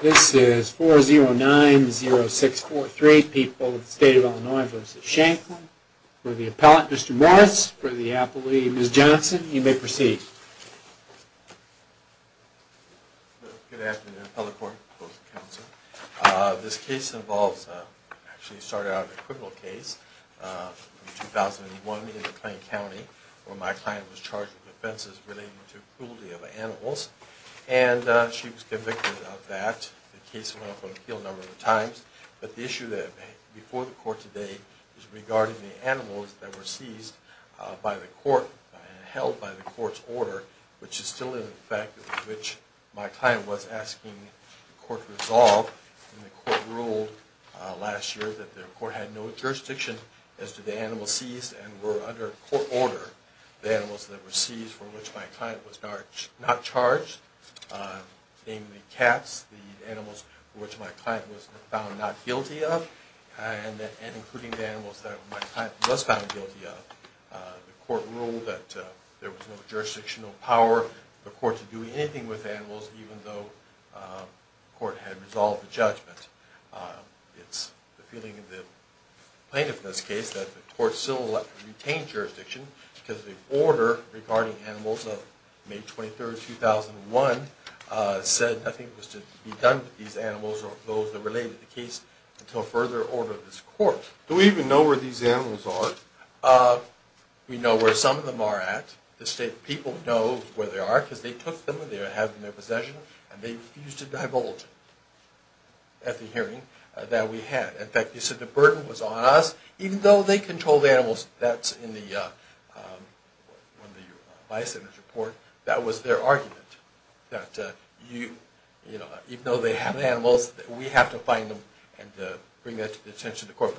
This is 4090643, People of the State of Illinois v. Shanklin. For the appellate, Mr. Morris. For the appellee, Ms. Johnson. You may proceed. Morris Good afternoon, appellate court. This case involves, actually started out as a criminal case in 2001 in the Plain County where my client was charged with offenses relating to cruelty of animals and she was convicted of that. The case went up on appeal a number of times, but the issue before the court today is regarding the animals that were seized by the court and held by the court's order, which is still in effect, which my client was asking the court to resolve. And the court ruled last year that the court had no jurisdiction as to the animals seized and were under court order, the animals that were seized for which my client was not charged, namely cats, the animals for which my client was found not guilty of, and including the animals that my client was found guilty of. The court ruled that there was no jurisdictional power for the court to do anything with animals even though the court had resolved the judgment. It's the feeling of the plaintiff in this case that the court still retained jurisdiction because the order regarding animals of May 23, 2001 said nothing was to be done with these animals or those that related to the case until further order of this court. Do we even know where these animals are? We know where some of them are at. The state people know where they are because they took them and they have them in their possession and they refused to divulge at the hearing that we had. In fact, you said the burden was on us even though they controlled the animals. That's in the Bison's report. That was their argument that even though they have animals, we have to find them and bring that to the attention of the court.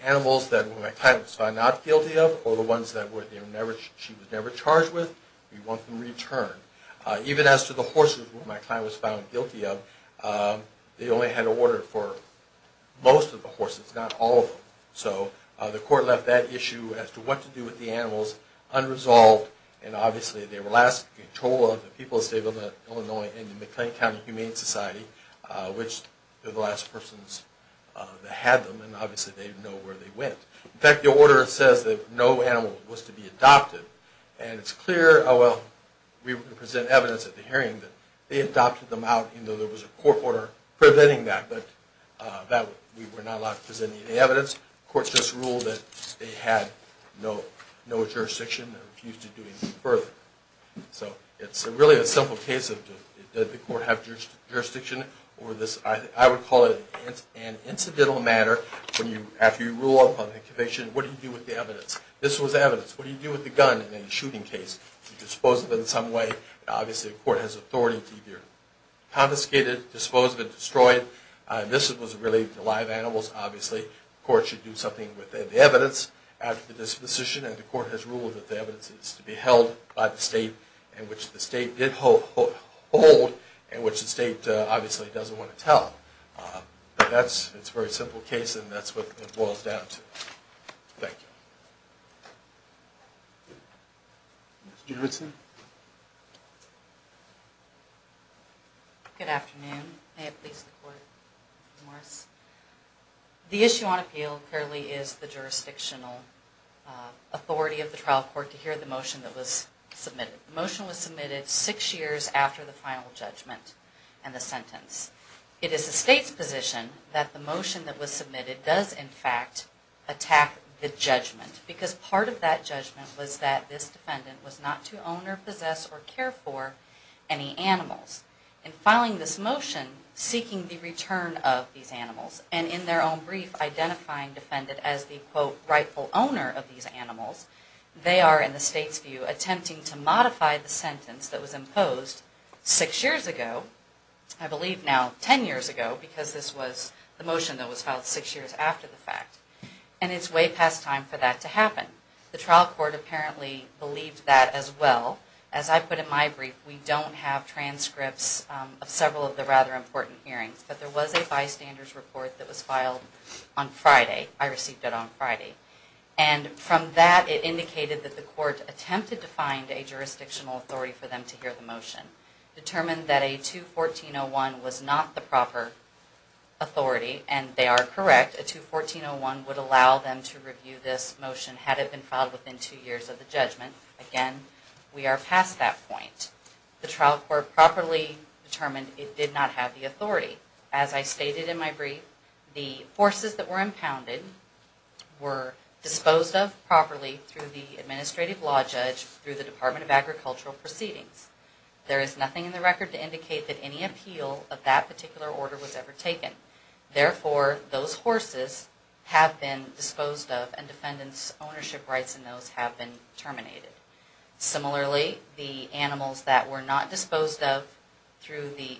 The animals that my client was found not guilty of or the ones that she was never charged with, we want them returned. Even as to the horses that my client was found guilty of, they only had an order for most of the horses, not all of them. So the court left that issue as to what to do with the animals unresolved and obviously they were last in control of the people of the state of Illinois and the McLean County Humane Society, which were the last persons that had them and obviously they didn't know where they went. In fact, the order says that no animal was to be adopted and it's clear, oh well, we were going to present evidence at the hearing that they adopted them out even though there was a court order preventing that, but we were not allowed to present any evidence. The court just ruled that they had no jurisdiction and refused to do anything further. So it's really a simple case of did the court have jurisdiction over this, I would call it an incidental matter after you rule upon an incubation, what do you do with the evidence? This was evidence. What do you do with the gun in a shooting case? You dispose of it in some way. Obviously the court has authority to either confiscate it, dispose of it, destroy it. This was really the live animals, obviously the court should do something with the evidence after the disposition and the court has ruled that the evidence is to be held by the state in which the state did hold and which the state obviously doesn't want to tell. But it's a very simple case and that's what it boils down to. Thank you. Ms. Juritsen. Good afternoon. May it please the court. The issue on appeal clearly is the jurisdictional authority of the trial court to hear the motion that was submitted. The motion was submitted six years after the final judgment and the sentence. It is the state's position that the motion that was submitted does in fact attack the judgment because part of that judgment was that this defendant was not to own or possess or care for any animals. In filing this motion, seeking the return of these animals and in their own brief identifying the defendant as the quote rightful owner of these animals, they are in the state's view attempting to modify the sentence that was imposed six years ago. I believe now ten years ago because this was the motion that was filed six years after the fact. And it's way past time for that to happen. The trial court apparently believed that as well. As I put in my brief, we don't have transcripts of several of the rather important hearings, but there was a bystanders report that was filed on Friday. I received it on Friday. And from that it indicated that the court attempted to find a jurisdictional authority for them to hear the motion. Determined that a 214-01 was not the proper authority and they are correct. A 214-01 would allow them to review this motion had it been filed within two years of the judgment. Again, we are past that point. The trial court properly determined it did not have the authority. As I stated in my brief, the horses that were impounded were disposed of properly through the administrative law judge through the Department of Agricultural Proceedings. There is nothing in the record to indicate that any appeal of that particular order was ever taken. Therefore, those horses have been disposed of and defendant's ownership rights in those have been terminated. Similarly, the animals that were not disposed of through the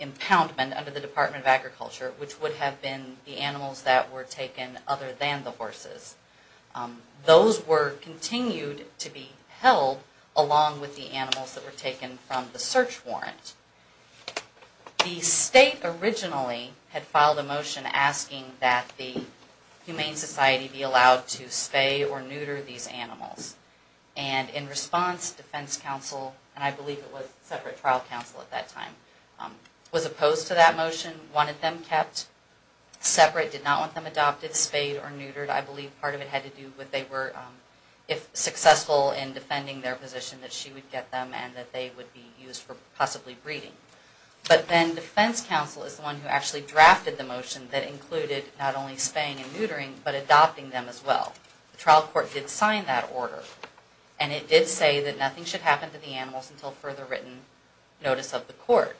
impoundment under the Department of Agriculture, which would have been the animals that were taken other than the horses. Those were continued to be held along with the animals that were taken from the search warrant. The state originally had filed a motion asking that the Humane Society be allowed to spay or neuter these animals. And in response, defense counsel, and I believe it was separate trial counsel at that time, was opposed to that motion, wanted them kept separate, did not want them adopted, spayed or neutered. I believe part of it had to do with they were, if successful in defending their position, that she would get them and that they would be used for possibly breeding. But then defense counsel is the one who actually drafted the motion that included not only spaying and neutering, but adopting them as well. The trial court did sign that order. And it did say that nothing should happen to the animals until further written notice of the court.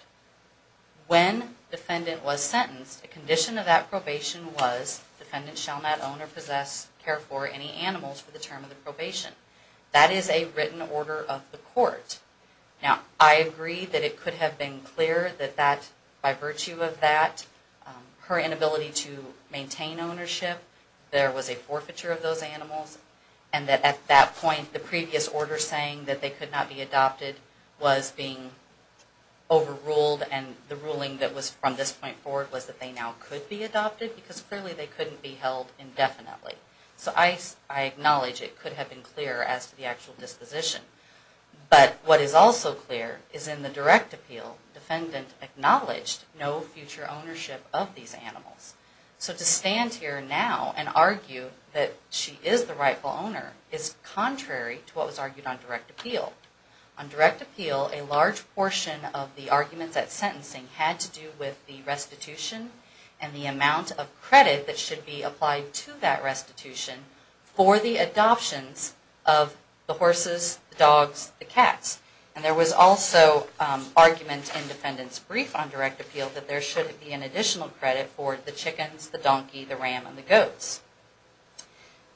When defendant was sentenced, a condition of that probation was, defendant shall not own or possess, care for any animals for the term of the probation. That is a written order of the court. Now, I agree that it could have been clear that that, by virtue of that, her inability to maintain ownership, there was a forfeiture of those animals. And that at that point, the previous order saying that they could not be adopted was being overruled and the ruling that was from this point forward was that they now could be adopted because clearly they couldn't be held indefinitely. So I acknowledge it could have been clear as to the actual disposition. But what is also clear is in the direct appeal, defendant acknowledged no future ownership of these animals. So to stand here now and argue that she is the rightful owner is contrary to what was argued on direct appeal. On direct appeal, a large portion of the arguments at sentencing had to do with the restitution and the amount of credit that should be applied to that restitution for the adoptions of the horses, the dogs, the cats. And there was also argument in defendant's brief on direct appeal that there should be an additional credit for the chickens, the donkey, the ram, and the goats.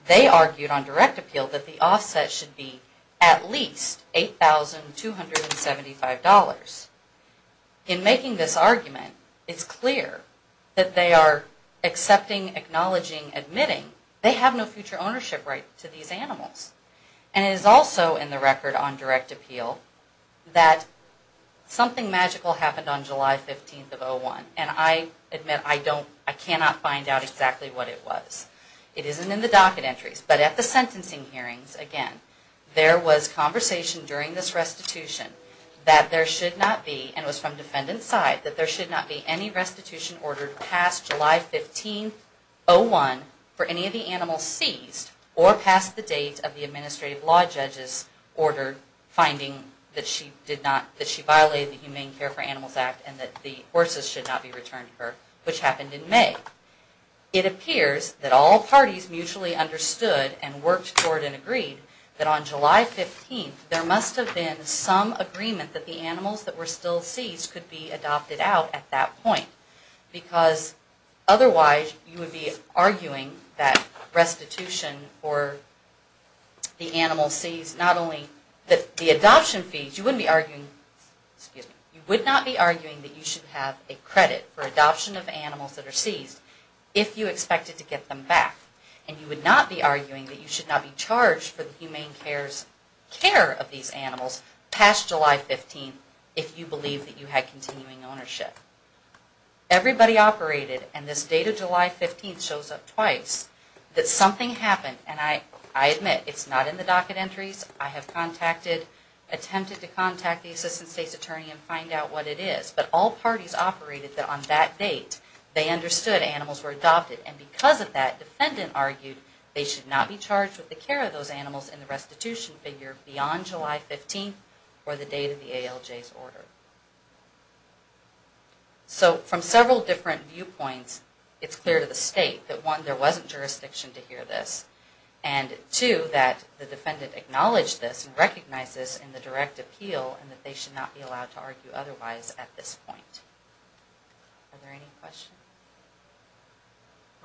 They argued on direct appeal that the offset should be at least $8,275. In making this argument, it's clear that they are accepting, acknowledging, admitting they have no future ownership right to these animals. And it is also in the record on direct appeal that something magical happened on July 15th of 2001. And I admit I cannot find out exactly what it was. It isn't in the docket entries. But at the sentencing hearings, again, there was conversation during this restitution that there should not be, and it was from defendant's side, that there should not be any restitution ordered past July 15th, 2001 for any of the animals seized or past the date of the adoption. The administrative law judges ordered finding that she violated the Humane Care for Animals Act and that the horses should not be returned to her, which happened in May. It appears that all parties mutually understood and worked toward and agreed that on July 15th there must have been some agreement that the animals that were still seized could be adopted out at that point. Because otherwise you would be arguing that restitution for the animals seized, not only the adoption fees, you wouldn't be arguing, excuse me, you would not be arguing that you should have a credit for adoption of animals that are seized if you expected to get them back. And you would not be arguing that you should not be charged for the Humane Care of these animals past July 15th if you believe that you had continuing ownership. Everybody operated, and this date of July 15th shows up twice, that something happened. And I admit it's not in the docket entries. I have attempted to contact the Assistant State's Attorney and find out what it is. But all parties operated that on that date they understood animals were adopted. And because of that, defendant argued they should not be charged with the care of those animals in the restitution figure beyond July 15th or the date of the ALJ's order. So from several different viewpoints, it's clear to the state that one, there wasn't jurisdiction to hear this, and two, that the defendant acknowledged this and recognized this in the direct appeal and that they should not be allowed to argue otherwise at this point. Are there any questions?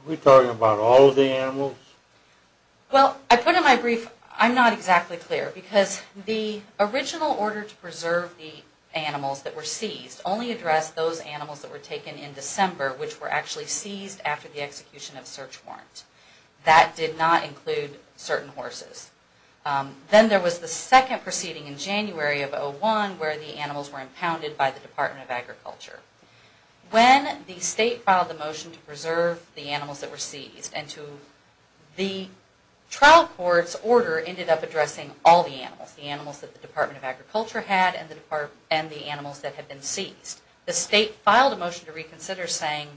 Are we talking about all of the animals? Well, I put in my brief, I'm not exactly clear because the original order to preserve the animals that were seized only addressed those animals that were taken in December which were actually seized after the execution of the search warrant. That did not include certain horses. Then there was the second proceeding in January of 2001 where the animals were impounded by the Department of Agriculture. When the state filed the motion to preserve the animals that were seized, the trial court's order ended up addressing all the animals, the animals that the Department of Agriculture had and the animals that had been seized. The state filed a motion to reconsider saying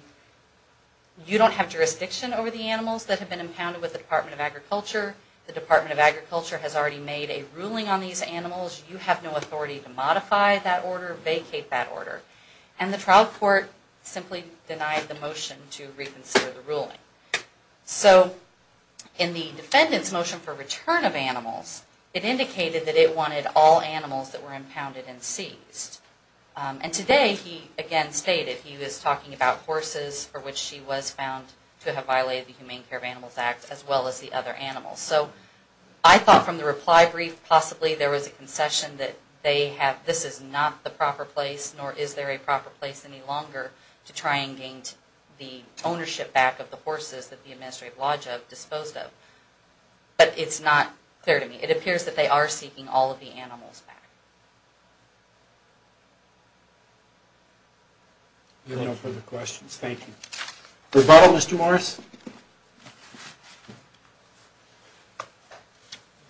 you don't have jurisdiction over the animals that have been impounded by the Department of Agriculture. The Department of Agriculture has already made a ruling on these animals. You have no authority to modify that order, vacate that order. And the trial court simply denied the motion to reconsider the ruling. So in the defendant's motion for return of animals, it indicated that it wanted all animals that were impounded and seized. And today he again stated he was talking about horses for which she was found to have violated the Humane Care of Animals Act as well as the other animals. So I thought from the reply brief possibly there was a concession that this is not the proper place nor is there a proper place any longer to try and gain the ownership back of the horses that the Administrative Lodge disposed of. But it's not clear to me. It appears that they are seeking all of the animals back. No further questions. Thank you. Rebuttal, Mr. Morris.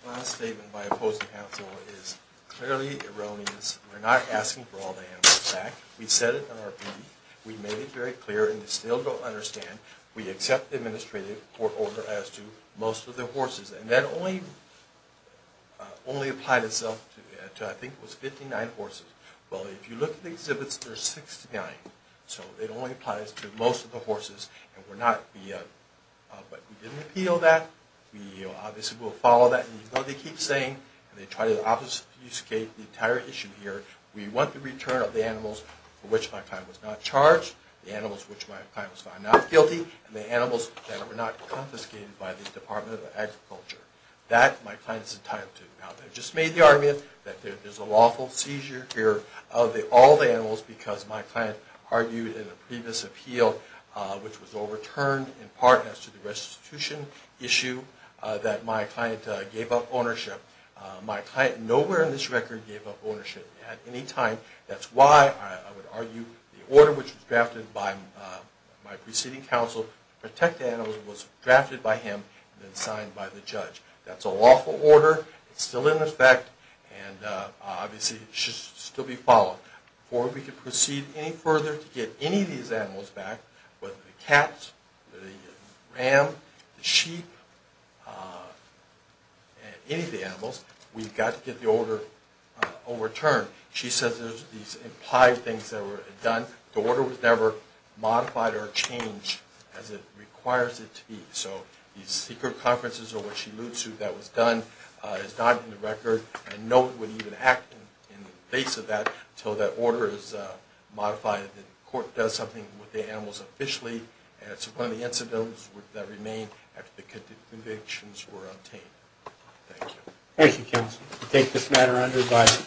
My statement by opposing counsel is clearly erroneous. We're not asking for all the animals back. We said it in our brief. We made it very clear and you still don't understand. We accept the Administrative Court order as to most of the horses and that only applied itself to I think it was 59 horses. Well, if you look at the exhibits, there's 69. So it only applies to most of the horses. But we didn't appeal that. We obviously will follow that. And you know they keep saying and they try to obfuscate the entire issue here. We want the return of the animals for which my client was not charged, the animals which my client was found not guilty and the animals that were not confiscated by the Department of Agriculture. That my client is entitled to. I just made the argument that there's a lawful seizure here of all the animals because my client argued in a previous appeal which was overturned in part as to the restitution issue that my client gave up ownership. My client nowhere in this record gave up ownership at any time. That's why I would argue the order which was drafted by my preceding counsel to protect the animals was drafted by him and then signed by the judge. That's a lawful order. It's still in effect and obviously it should still be followed. Before we can proceed any further to get any of these animals back, whether the cats, the ram, the sheep, any of the animals, we've got to get the order overturned. She says there's these implied things that were done. The order was never modified or changed as it requires it to be. So these secret conferences or what she alludes to that was done is not in the record. I know it wouldn't even act in the face of that until that order is modified and the court does something with the animals officially. It's one of the incidents that remain after the convictions were obtained. Thank you. Thank you, counsel. We take this matter under advisory.